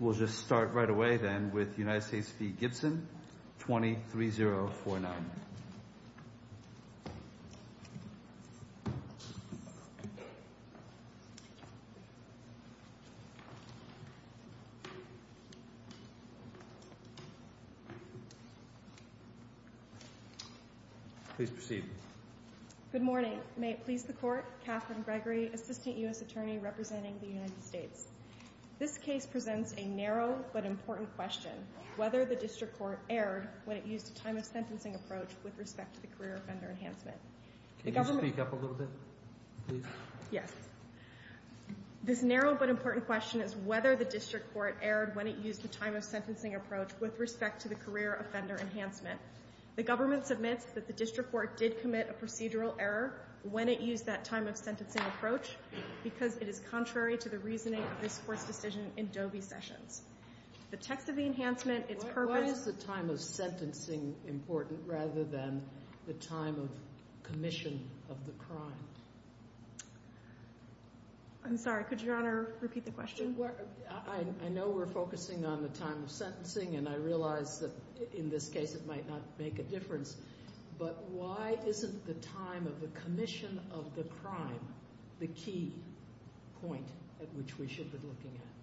We'll just start right away then with United States v. Gibson, 20-3-0-4-9. Please proceed. Good morning. May it please the Court, Catherine Gregory, Assistant U.S. Attorney representing the United States. This case presents a narrow but important question, whether the district court erred when it used a time-of-sentencing approach with respect to the career offender enhancement. Can you speak up a little bit, please? Yes. This narrow but important question is whether the district court erred when it used a time-of-sentencing approach with respect to the career offender enhancement. The government submits that the district court did commit a procedural error when it used that time-of-sentencing approach because it is contrary to the reasoning of this Court's decision in Dobie Sessions. The text of the enhancement, its purpose— Why is the time-of-sentencing important rather than the time of commission of the crime? I'm sorry. Could Your Honor repeat the question? Well, I know we're focusing on the time of sentencing, and I realize that in this case it might not make a difference, but why isn't the time of the commission of the crime the key point at which we should be looking at?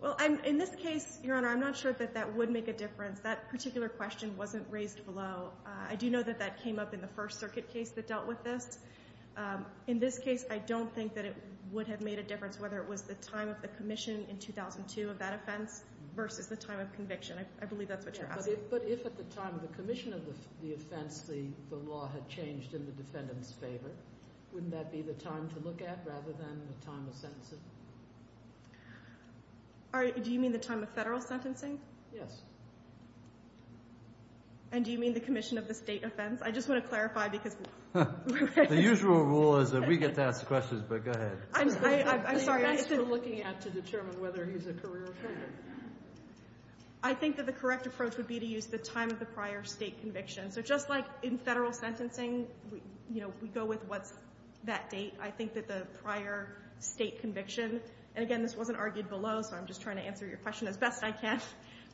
Well, in this case, Your Honor, I'm not sure that that would make a difference. That particular question wasn't raised below. I do know that that came up in the First Circuit case that dealt with this. In this case, I don't think that it would have made a difference whether it was the time of the commission in 2002 of that offense versus the time of conviction. I believe that's what you're asking. But if at the time of the commission of the offense the law had changed in the defendant's favor, wouldn't that be the time to look at rather than the time of sentencing? Do you mean the time of Federal sentencing? Yes. And do you mean the commission of the State offense? The usual rule is that we get to ask the questions, but go ahead. I'm sorry. The answer we're looking at to determine whether he's a career offender. I think that the correct approach would be to use the time of the prior State conviction. So just like in Federal sentencing, you know, we go with what's that date. I think that the prior State conviction, and, again, this wasn't argued below, so I'm just trying to answer your question as best I can,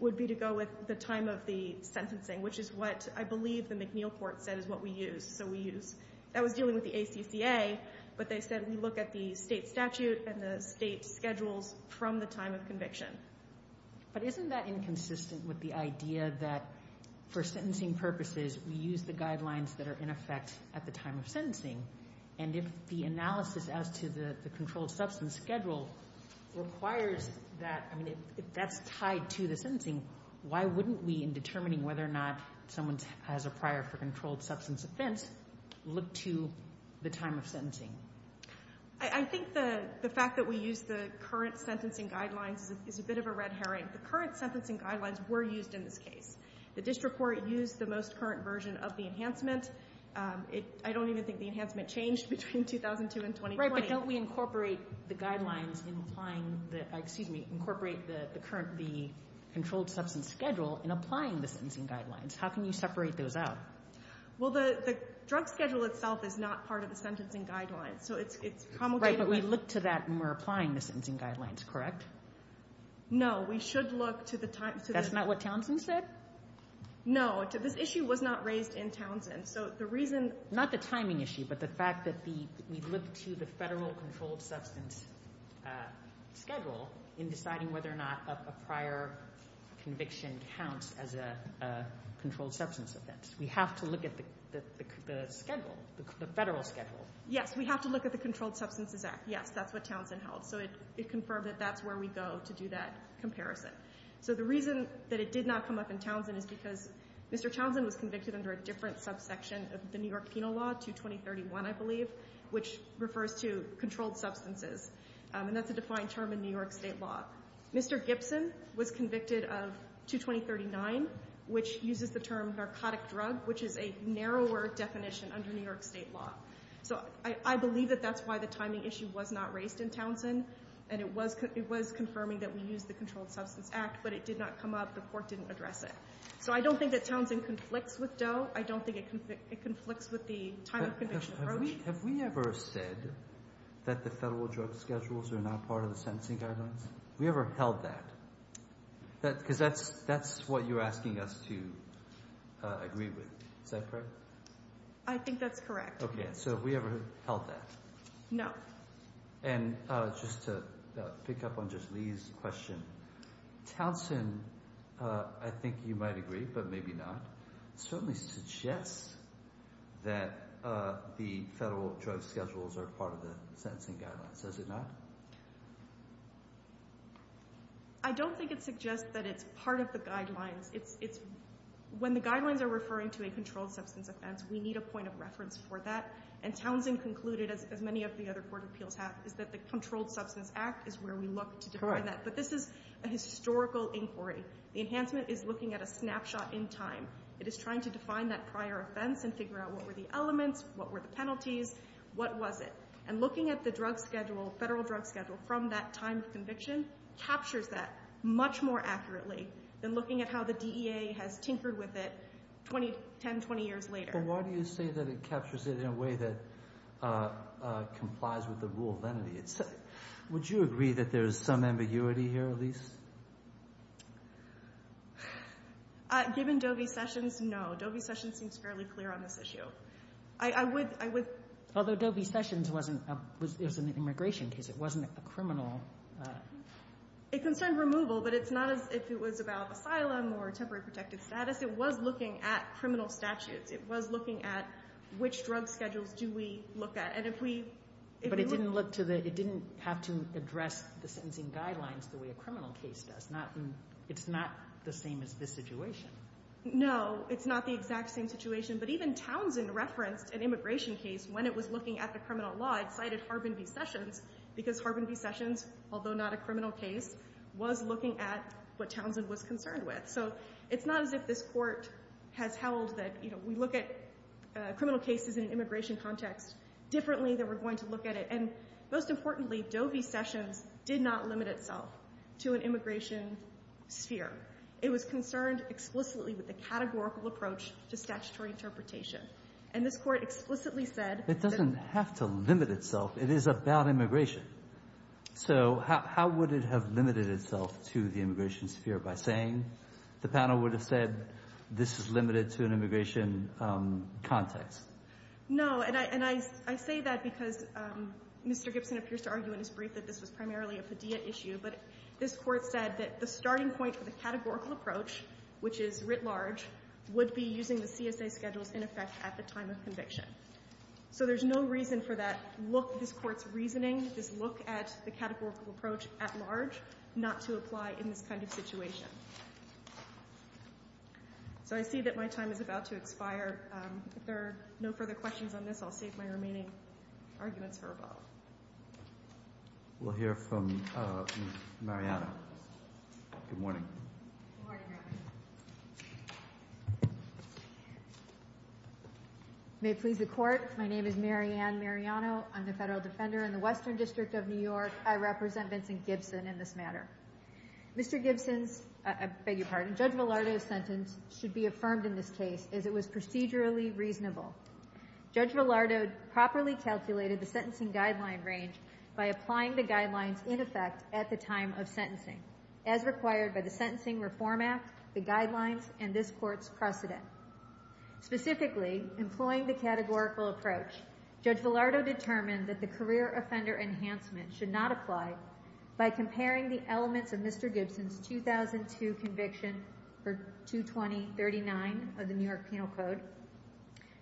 would be to go with the time of the sentencing, which is what I believe the McNeil court said is what we use, so we use. That was dealing with the ACCA, but they said we look at the State statute and the State schedules from the time of conviction. But isn't that inconsistent with the idea that for sentencing purposes we use the guidelines that are in effect at the time of sentencing? And if the analysis as to the controlled substance schedule requires that, I mean, if that's tied to the sentencing, why wouldn't we, in determining whether or not someone has a prior for controlled substance offense, look to the time of sentencing? I think the fact that we use the current sentencing guidelines is a bit of a red herring. The current sentencing guidelines were used in this case. The district court used the most current version of the enhancement. I don't even think the enhancement changed between 2002 and 2020. But don't we incorporate the guidelines in applying the, excuse me, incorporate the controlled substance schedule in applying the sentencing guidelines? How can you separate those out? Well, the drug schedule itself is not part of the sentencing guidelines, so it's promulgated. Right, but we look to that when we're applying the sentencing guidelines, correct? No, we should look to the time. That's not what Townsend said? No, this issue was not raised in Townsend. Not the timing issue, but the fact that we look to the federal controlled substance schedule in deciding whether or not a prior conviction counts as a controlled substance offense. We have to look at the schedule, the federal schedule. Yes, we have to look at the Controlled Substances Act. Yes, that's what Townsend held. So it confirmed that that's where we go to do that comparison. So the reason that it did not come up in Townsend is because Mr. Townsend was convicted under a different subsection of the New York Penal Law, 22031, I believe, which refers to controlled substances, and that's a defined term in New York State law. Mr. Gibson was convicted of 22039, which uses the term narcotic drug, which is a narrower definition under New York State law. So I believe that that's why the timing issue was not raised in Townsend, and it was confirming that we used the Controlled Substance Act, but it did not come up. The court didn't address it. So I don't think that Townsend conflicts with Doe. I don't think it conflicts with the timing conviction. Have we ever said that the federal drug schedules are not part of the sentencing guidelines? Have we ever held that? Because that's what you're asking us to agree with. Is that correct? I think that's correct. Okay, so have we ever held that? No. And just to pick up on just Lee's question, Townsend, I think you might agree but maybe not, certainly suggests that the federal drug schedules are part of the sentencing guidelines. Is it not? I don't think it suggests that it's part of the guidelines. When the guidelines are referring to a controlled substance offense, we need a point of reference for that, and Townsend concluded, as many of the other court appeals have, is that the Controlled Substance Act is where we look to define that. But this is a historical inquiry. The enhancement is looking at a snapshot in time. It is trying to define that prior offense and figure out what were the elements, what were the penalties, what was it. And looking at the drug schedule, federal drug schedule, from that time of conviction captures that much more accurately than looking at how the DEA has tinkered with it 10, 20 years later. But why do you say that it captures it in a way that complies with the rule of entity? Would you agree that there is some ambiguity here, Elise? Given Dovie Sessions, no. Dovie Sessions seems fairly clear on this issue. I would. Although Dovie Sessions was an immigration case. It wasn't a criminal. It concerned removal, but it's not as if it was about asylum or temporary protected status. It was looking at criminal statutes. It was looking at which drug schedules do we look at. But it didn't have to address the sentencing guidelines the way a criminal case does. It's not the same as this situation. No, it's not the exact same situation. But even Townsend referenced an immigration case when it was looking at the criminal law. It cited Harbin v. Sessions because Harbin v. Sessions, although not a criminal case, was looking at what Townsend was concerned with. So it's not as if this Court has held that we look at criminal cases in an immigration context differently than we're going to look at it. And most importantly, Dovie Sessions did not limit itself to an immigration sphere. It was concerned explicitly with the categorical approach to statutory interpretation. And this Court explicitly said that— It doesn't have to limit itself. It is about immigration. So how would it have limited itself to the immigration sphere? By saying the panel would have said this is limited to an immigration context. No. And I say that because Mr. Gibson appears to argue in his brief that this was primarily a Padilla issue. But this Court said that the starting point for the categorical approach, which is writ large, would be using the CSA schedules in effect at the time of conviction. So there's no reason for that look, this Court's reasoning, this look at the categorical approach at large not to apply in this kind of situation. So I see that my time is about to expire. If there are no further questions on this, I'll save my remaining arguments for above. We'll hear from Mariano. Good morning. Good morning, Your Honor. May it please the Court, my name is Mary Ann Mariano. I'm the Federal Defender in the Western District of New York. I represent Vincent Gibson in this matter. Mr. Gibson's, I beg your pardon, Judge Villardo's sentence should be affirmed in this case as it was procedurally reasonable. Judge Villardo properly calculated the sentencing guideline range by applying the guidelines in effect at the time of sentencing, as required by the Sentencing Reform Act, the guidelines, and this Court's precedent. Specifically, employing the categorical approach, Judge Villardo determined that the career offender enhancement should not apply by comparing the elements of Mr. Gibson's 2002 conviction for 22039 of the New York Penal Code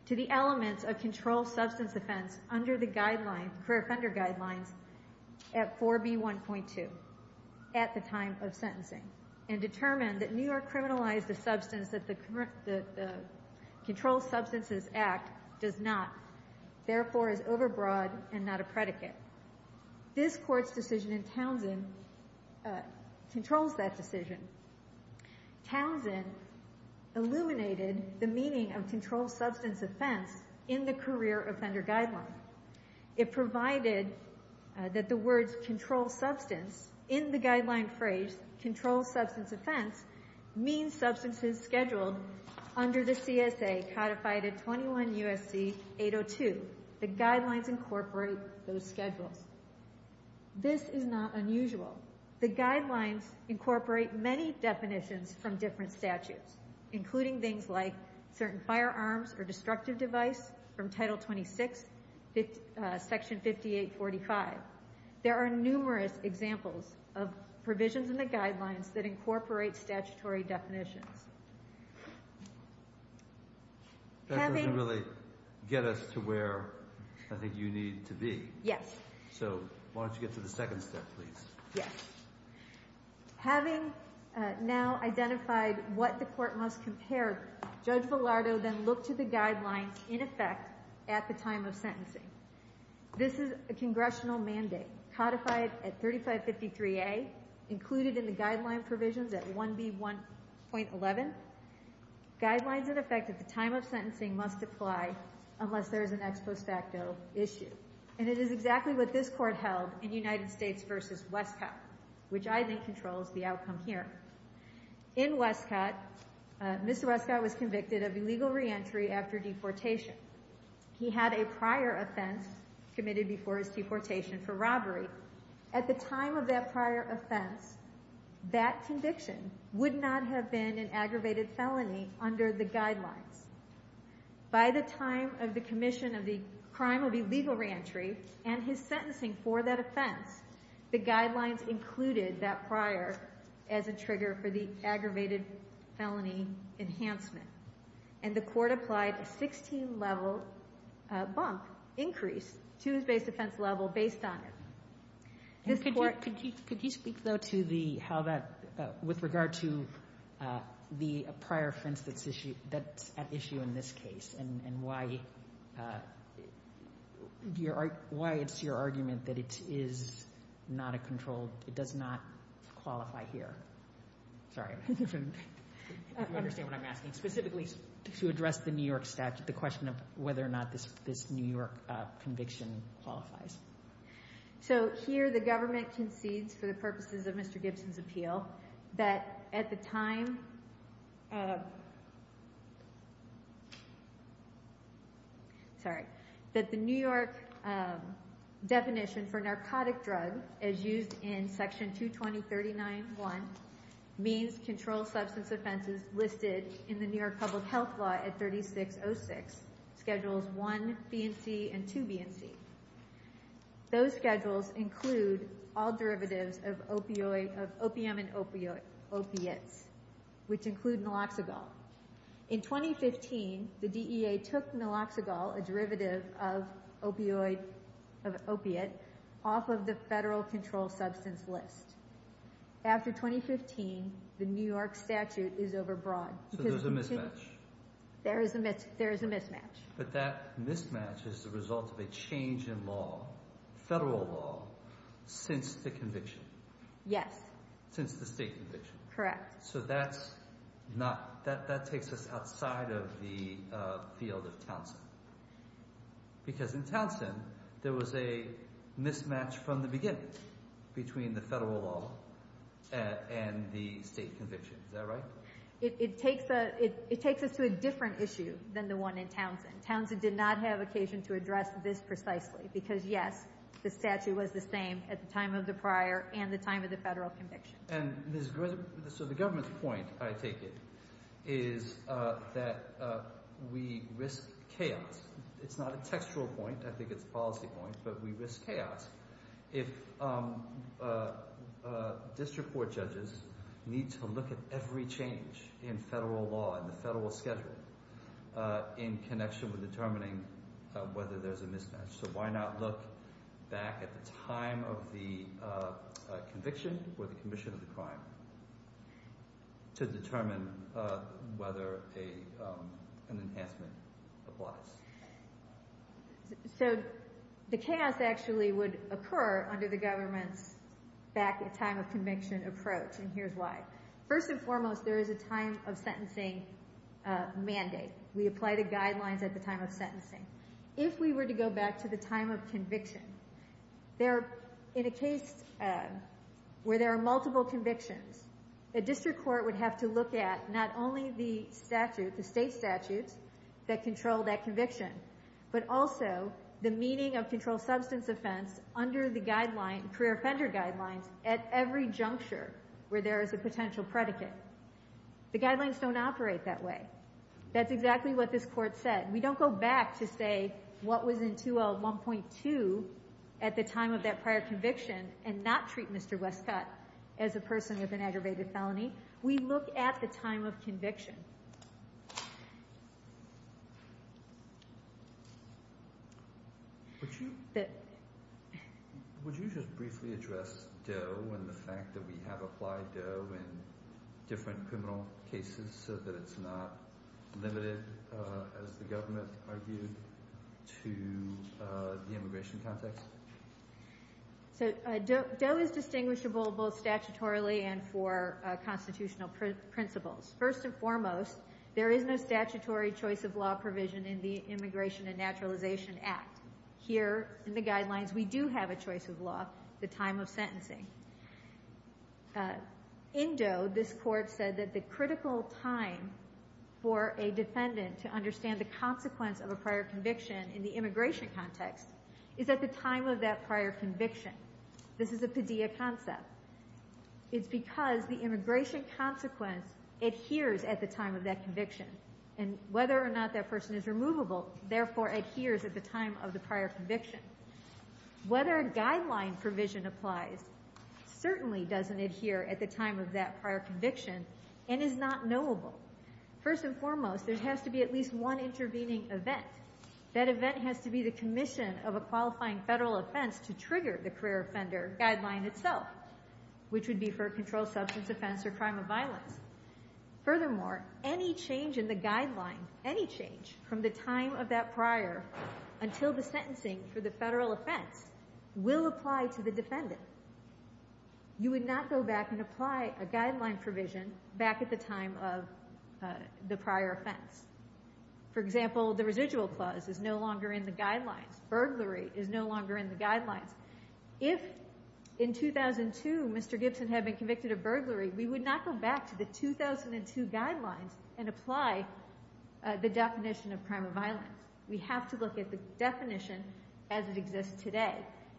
to the elements of controlled substance offense under the guidelines, career offender guidelines, at 4B1.2 at the time of sentencing, and determined that New York criminalized the substance that the Controlled Substances Act does not, therefore is overbroad and not a predicate. This Court's decision in Townsend controls that decision. Townsend illuminated the meaning of controlled substance offense in the career offender guideline. It provided that the words controlled substance in the guideline phrase controlled substance offense means substances scheduled under the CSA codified at 21 U.S.C. 802. The guidelines incorporate those schedules. This is not unusual. The guidelines incorporate many definitions from different statutes, including things like certain firearms or destructive device from Title 26, Section 5845. There are numerous examples of provisions in the guidelines that incorporate statutory definitions. That doesn't really get us to where I think you need to be. Yes. So why don't you get to the second step, please? Yes. Having now identified what the Court must compare, Judge Villardo then looked to the guidelines in effect at the time of sentencing. This is a congressional mandate codified at 3553A, included in the guideline provisions at 1B.11. Guidelines in effect at the time of sentencing must apply unless there is an ex post facto issue. And it is exactly what this Court held in United States v. Westcott, which I think controls the outcome here. In Westcott, Mr. Westcott was convicted of illegal reentry after deportation. He had a prior offense committed before his deportation for robbery. At the time of that prior offense, that conviction would not have been an aggravated felony under the guidelines. By the time of the commission of the crime of illegal reentry and his sentencing for that offense, the guidelines included that prior as a trigger for the aggravated felony enhancement. And the Court applied a 16-level bump increase to his base offense level based on it. Could you speak, though, to how that, with regard to the prior offense that's at issue in this case and why it's your argument that it is not a controlled, it does not qualify here. Sorry. I don't understand what I'm asking. Specifically to address the New York statute, the question of whether or not this New York conviction qualifies. So here the government concedes for the purposes of Mr. Gibson's appeal that at the time, sorry, that the New York definition for narcotic drug as used in Section 22039.1 means controlled substance offenses listed in the New York Public Health Law at 3606, Schedules I, B, and C, and II, B, and C. Those schedules include all derivatives of opium and opiates, which include naloxagol. In 2015, the DEA took naloxagol, a derivative of opiate, off of the federal controlled substance list. After 2015, the New York statute is overbroad. So there's a mismatch. There is a mismatch. But that mismatch is the result of a change in law, federal law, since the conviction. Yes. Since the state conviction. Correct. So that takes us outside of the field of Townsend. Because in Townsend, there was a mismatch from the beginning between the federal law and the state conviction. Is that right? It takes us to a different issue than the one in Townsend. Townsend did not have occasion to address this precisely. Because yes, the statute was the same at the time of the prior and the time of the federal conviction. And so the government's point, I take it, is that we risk chaos. It's not a textual point. I think it's a policy point. But we risk chaos. If district court judges need to look at every change in federal law and the federal schedule in connection with determining whether there's a mismatch, so why not look back at the time of the conviction or the commission of the crime to determine whether an enhancement applies? So the chaos actually would occur under the government's back at time of conviction approach. And here's why. First and foremost, there is a time of sentencing mandate. We apply the guidelines at the time of sentencing. If we were to go back to the time of conviction, in a case where there are multiple convictions, a district court would have to look at not only the meaning of controlled substance offense under the career offender guidelines at every juncture where there is a potential predicate. The guidelines don't operate that way. That's exactly what this court said. We don't go back to say what was in 2L1.2 at the time of that prior conviction and not treat Mr. Westcott as a person with an aggravated felony. We look at the time of conviction. Would you just briefly address DOE and the fact that we have applied DOE in different criminal cases so that it's not limited, as the government argued, to the immigration context? So DOE is distinguishable both statutorily and for constitutional principles. First and foremost, there is no statutory choice of law provision in the Immigration and Naturalization Act. Here in the guidelines, we do have a choice of law at the time of sentencing. In DOE, this court said that the critical time for a defendant to understand the consequence of a prior conviction in the immigration context is at the time of that prior conviction. This is a PDEA concept. It's because the immigration consequence adheres at the time of that conviction, and whether or not that person is removable, therefore, adheres at the time of the prior conviction. Whether a guideline provision applies certainly doesn't adhere at the time of that prior conviction and is not knowable. First and foremost, there has to be at least one intervening event. That event has to be the commission of a qualifying federal offense to trigger the career offender guideline itself, which would be for a controlled substance offense or crime of violence. Furthermore, any change in the guideline, any change from the time of that prior until the sentencing for the federal offense will apply to the defendant. You would not go back and apply a guideline provision back at the time of the prior offense. For example, the residual clause is no longer in the guidelines. Burglary is no longer in the guidelines. If in 2002 Mr. Gibson had been convicted of burglary, we would not go back to the 2002 guidelines and apply the definition of crime of violence. We have to look at the definition as it exists today,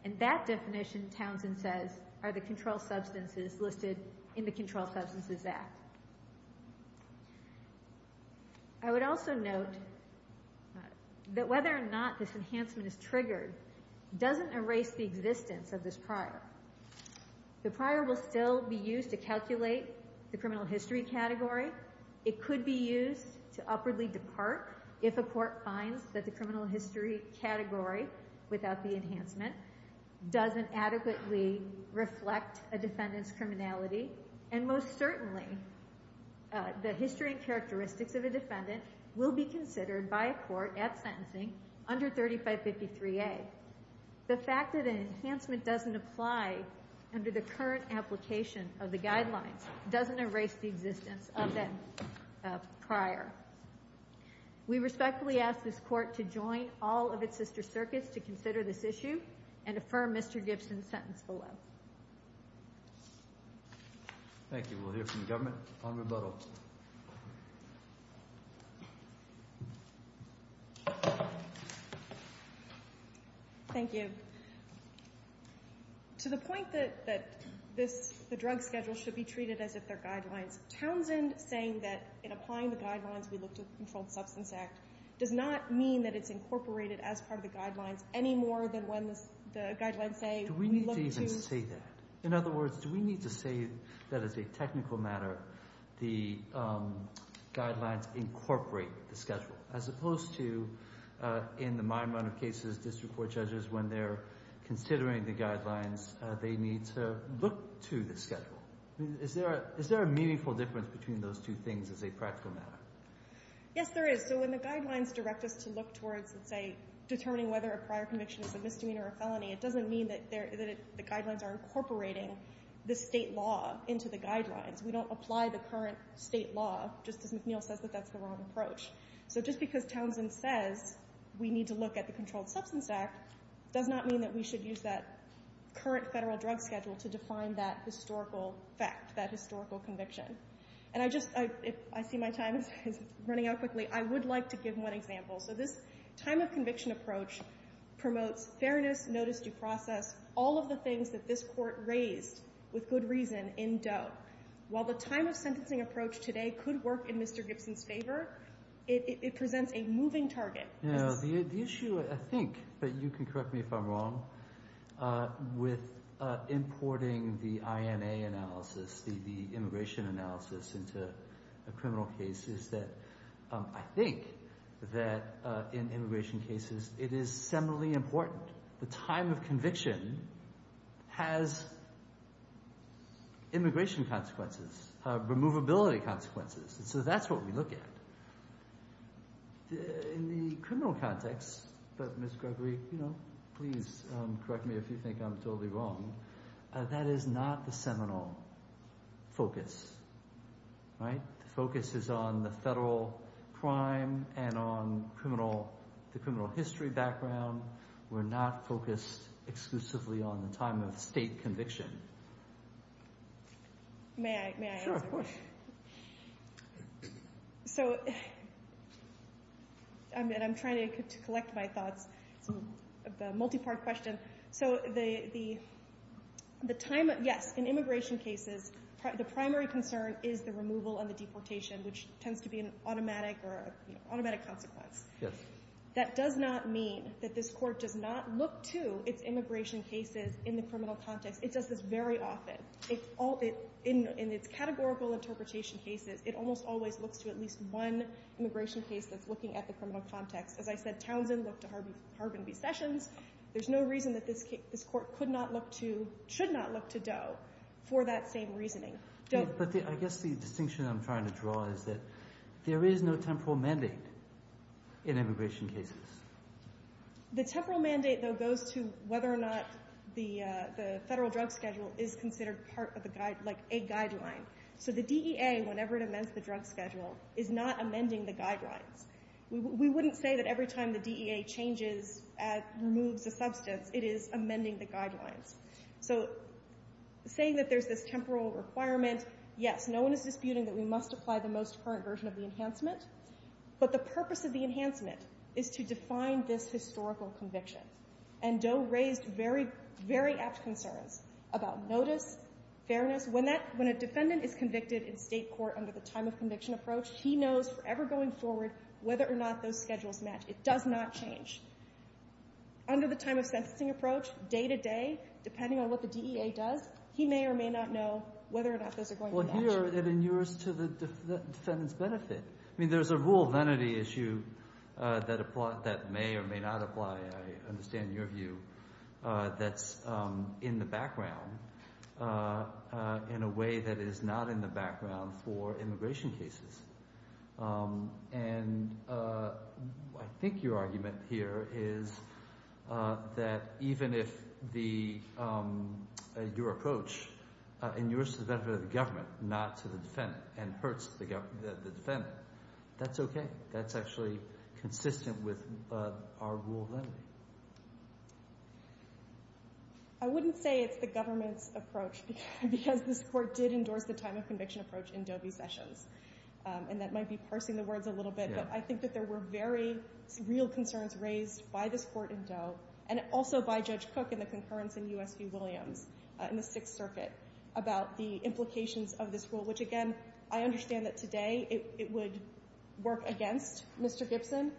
and that definition, Townsend says, are the controlled substances listed in the Controlled Substances Act. I would also note that whether or not this enhancement is triggered doesn't erase the existence of this prior. The prior will still be used to calculate the criminal history category. It could be used to upwardly depart if a court finds that the criminal history category, without the enhancement, doesn't adequately reflect a defendant's criminality, and most certainly the history and characteristics of a defendant will be considered by a court at sentencing under 3553A. The fact that an enhancement doesn't apply under the current application of the guidelines doesn't erase the existence of that prior. We respectfully ask this court to join all of its sister circuits to consider this issue and affirm Mr. Gibson's sentence below. Thank you. We'll hear from the government upon rebuttal. Thank you. To the point that the drug schedule should be treated as if they're guidelines, Townsend saying that in applying the guidelines we look to the Controlled Substances Act does not mean that it's incorporated as part of the guidelines any more than when the guidelines say we look to. Do we need to even say that? In other words, do we need to say that as a technical matter, the guidelines incorporate the schedule, as opposed to in the minor amount of cases district court judges, when they're considering the guidelines, they need to look to the schedule. Is there a meaningful difference between those two things as a practical matter? Yes, there is. So when the guidelines direct us to look towards, let's say, determining whether a prior conviction is a misdemeanor or a felony, it doesn't mean that the guidelines are incorporating the state law into the guidelines. We don't apply the current state law, just as McNeil says that that's the wrong approach. So just because Townsend says we need to look at the Controlled Substances Act does not mean that we should use that current federal drug schedule to define that historical fact, that historical conviction. And I just, if I see my time is running out quickly, I would like to give one example. So this time of conviction approach promotes fairness, notice, due process, all of the things that this court raised with good reason in Doe. While the time of sentencing approach today could work in Mr. Gibson's favor, it presents a moving target. The issue, I think, but you can correct me if I'm wrong, with importing the INA analysis, the immigration analysis into a criminal case, is that I think that in immigration cases it is seminally important. The time of conviction has immigration consequences, removability consequences. So that's what we look at. In the criminal context, but Ms. Gregory, you know, please correct me if you think I'm totally wrong, that is not the seminal focus, right? The focus is on the federal crime and on the criminal history background. We're not focused exclusively on the time of state conviction. May I answer that? Sure, of course. So I'm trying to collect my thoughts. It's a multi-part question. So the time, yes, in immigration cases, the primary concern is the removal and the deportation, which tends to be an automatic consequence. Yes. That does not mean that this Court does not look to its immigration cases in the criminal context. It does this very often. In its categorical interpretation cases, it almost always looks to at least one immigration case that's looking at the criminal context. As I said, Townsend looked to Harbin v. Sessions. There's no reason that this Court could not look to, or should not look to Doe for that same reasoning. But I guess the distinction I'm trying to draw is that there is no temporal mandate in immigration cases. The temporal mandate, though, goes to whether or not the federal drug schedule is considered part of a guideline. So the DEA, whenever it amends the drug schedule, is not amending the guidelines. We wouldn't say that every time the DEA changes, removes a substance, it is amending the guidelines. So saying that there's this temporal requirement, yes, no one is disputing that we must apply the most current version of the enhancement, but the purpose of the enhancement is to define this historical conviction. And Doe raised very, very apt concerns about notice, fairness. When that — when a defendant is convicted in State court under the time-of-conviction approach, he knows forever going forward whether or not those schedules match. It does not change. Under the time-of-sentencing approach, day-to-day, depending on what the DEA does, he may or may not know whether or not those are going to match. Well, here it inures to the defendant's benefit. I mean, there's a rule of entity issue that may or may not apply, I understand your view, that's in the background in a way that is not in the background for immigration cases. And I think your argument here is that even if your approach inures to the benefit of the government, not to the defendant, and hurts the defendant, that's okay. That's actually consistent with our rule of entity. I wouldn't say it's the government's approach because this Court did endorse the time-of-conviction approach in Doe v. Sessions. And that might be parsing the words a little bit. But I think that there were very real concerns raised by this Court in Doe and also by Judge Cook in the concurrence in U.S. v. Williams in the Sixth Circuit about the implications of this rule, which, again, I understand that today it would work against Mr. Gibson,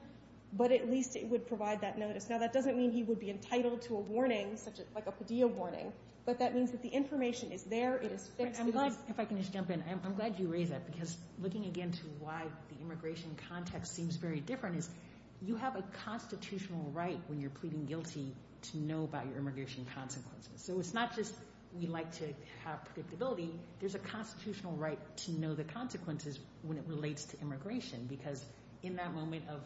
but at least it would provide that notice. Now, that doesn't mean he would be entitled to a warning, such as like a PDA warning, but that means that the information is there. If I can just jump in, I'm glad you raised that because looking again to why the immigration context seems very different is you have a constitutional right when you're pleading guilty to know about your immigration consequences. So it's not just we like to have predictability. There's a constitutional right to know the consequences when it relates to immigration because in that moment of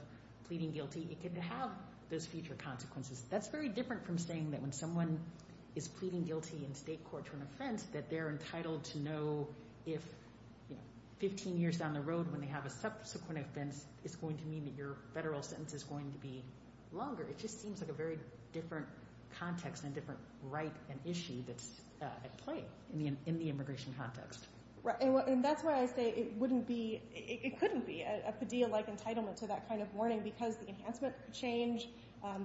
pleading guilty, it can have those future consequences. That's very different from saying that when someone is pleading guilty in state court to an offense that they're entitled to know if 15 years down the road when they have a subsequent offense, it's going to mean that your federal sentence is going to be longer. It just seems like a very different context and different right and issue that's at play in the immigration context. Right, and that's why I say it wouldn't be, it couldn't be a PDA-like entitlement to that kind of warning because the enhancement could change,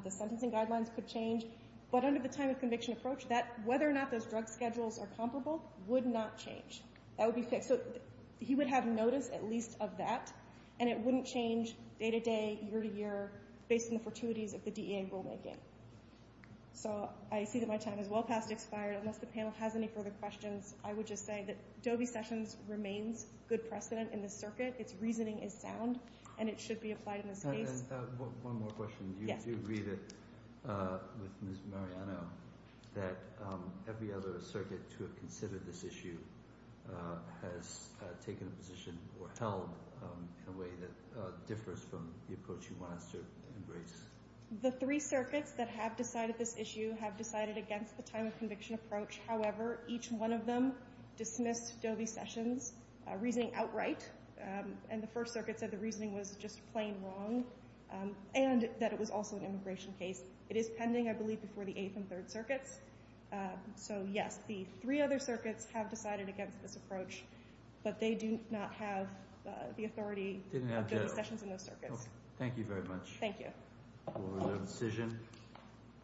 the sentencing guidelines could change. But under the time of conviction approach, whether or not those drug schedules are comparable would not change. That would be fixed. So he would have notice at least of that, and it wouldn't change day to day, year to year, based on the fortuities of the DEA rulemaking. So I see that my time is well past expired. Unless the panel has any further questions, I would just say that Doe v. Sessions remains good precedent in this circuit. Its reasoning is sound, and it should be applied in this case. One more question. Do you agree with Ms. Mariano that every other circuit to have considered this issue has taken a position or held in a way that differs from the approach you want us to embrace? The three circuits that have decided this issue have decided against the time of conviction approach. However, each one of them dismissed Doe v. Sessions' reasoning outright, and the First Circuit said the reasoning was just plain wrong and that it was also an immigration case. It is pending, I believe, before the Eighth and Third Circuits. So, yes, the three other circuits have decided against this approach, but they do not have the authority of Doe v. Sessions in those circuits. Thank you very much for the decision.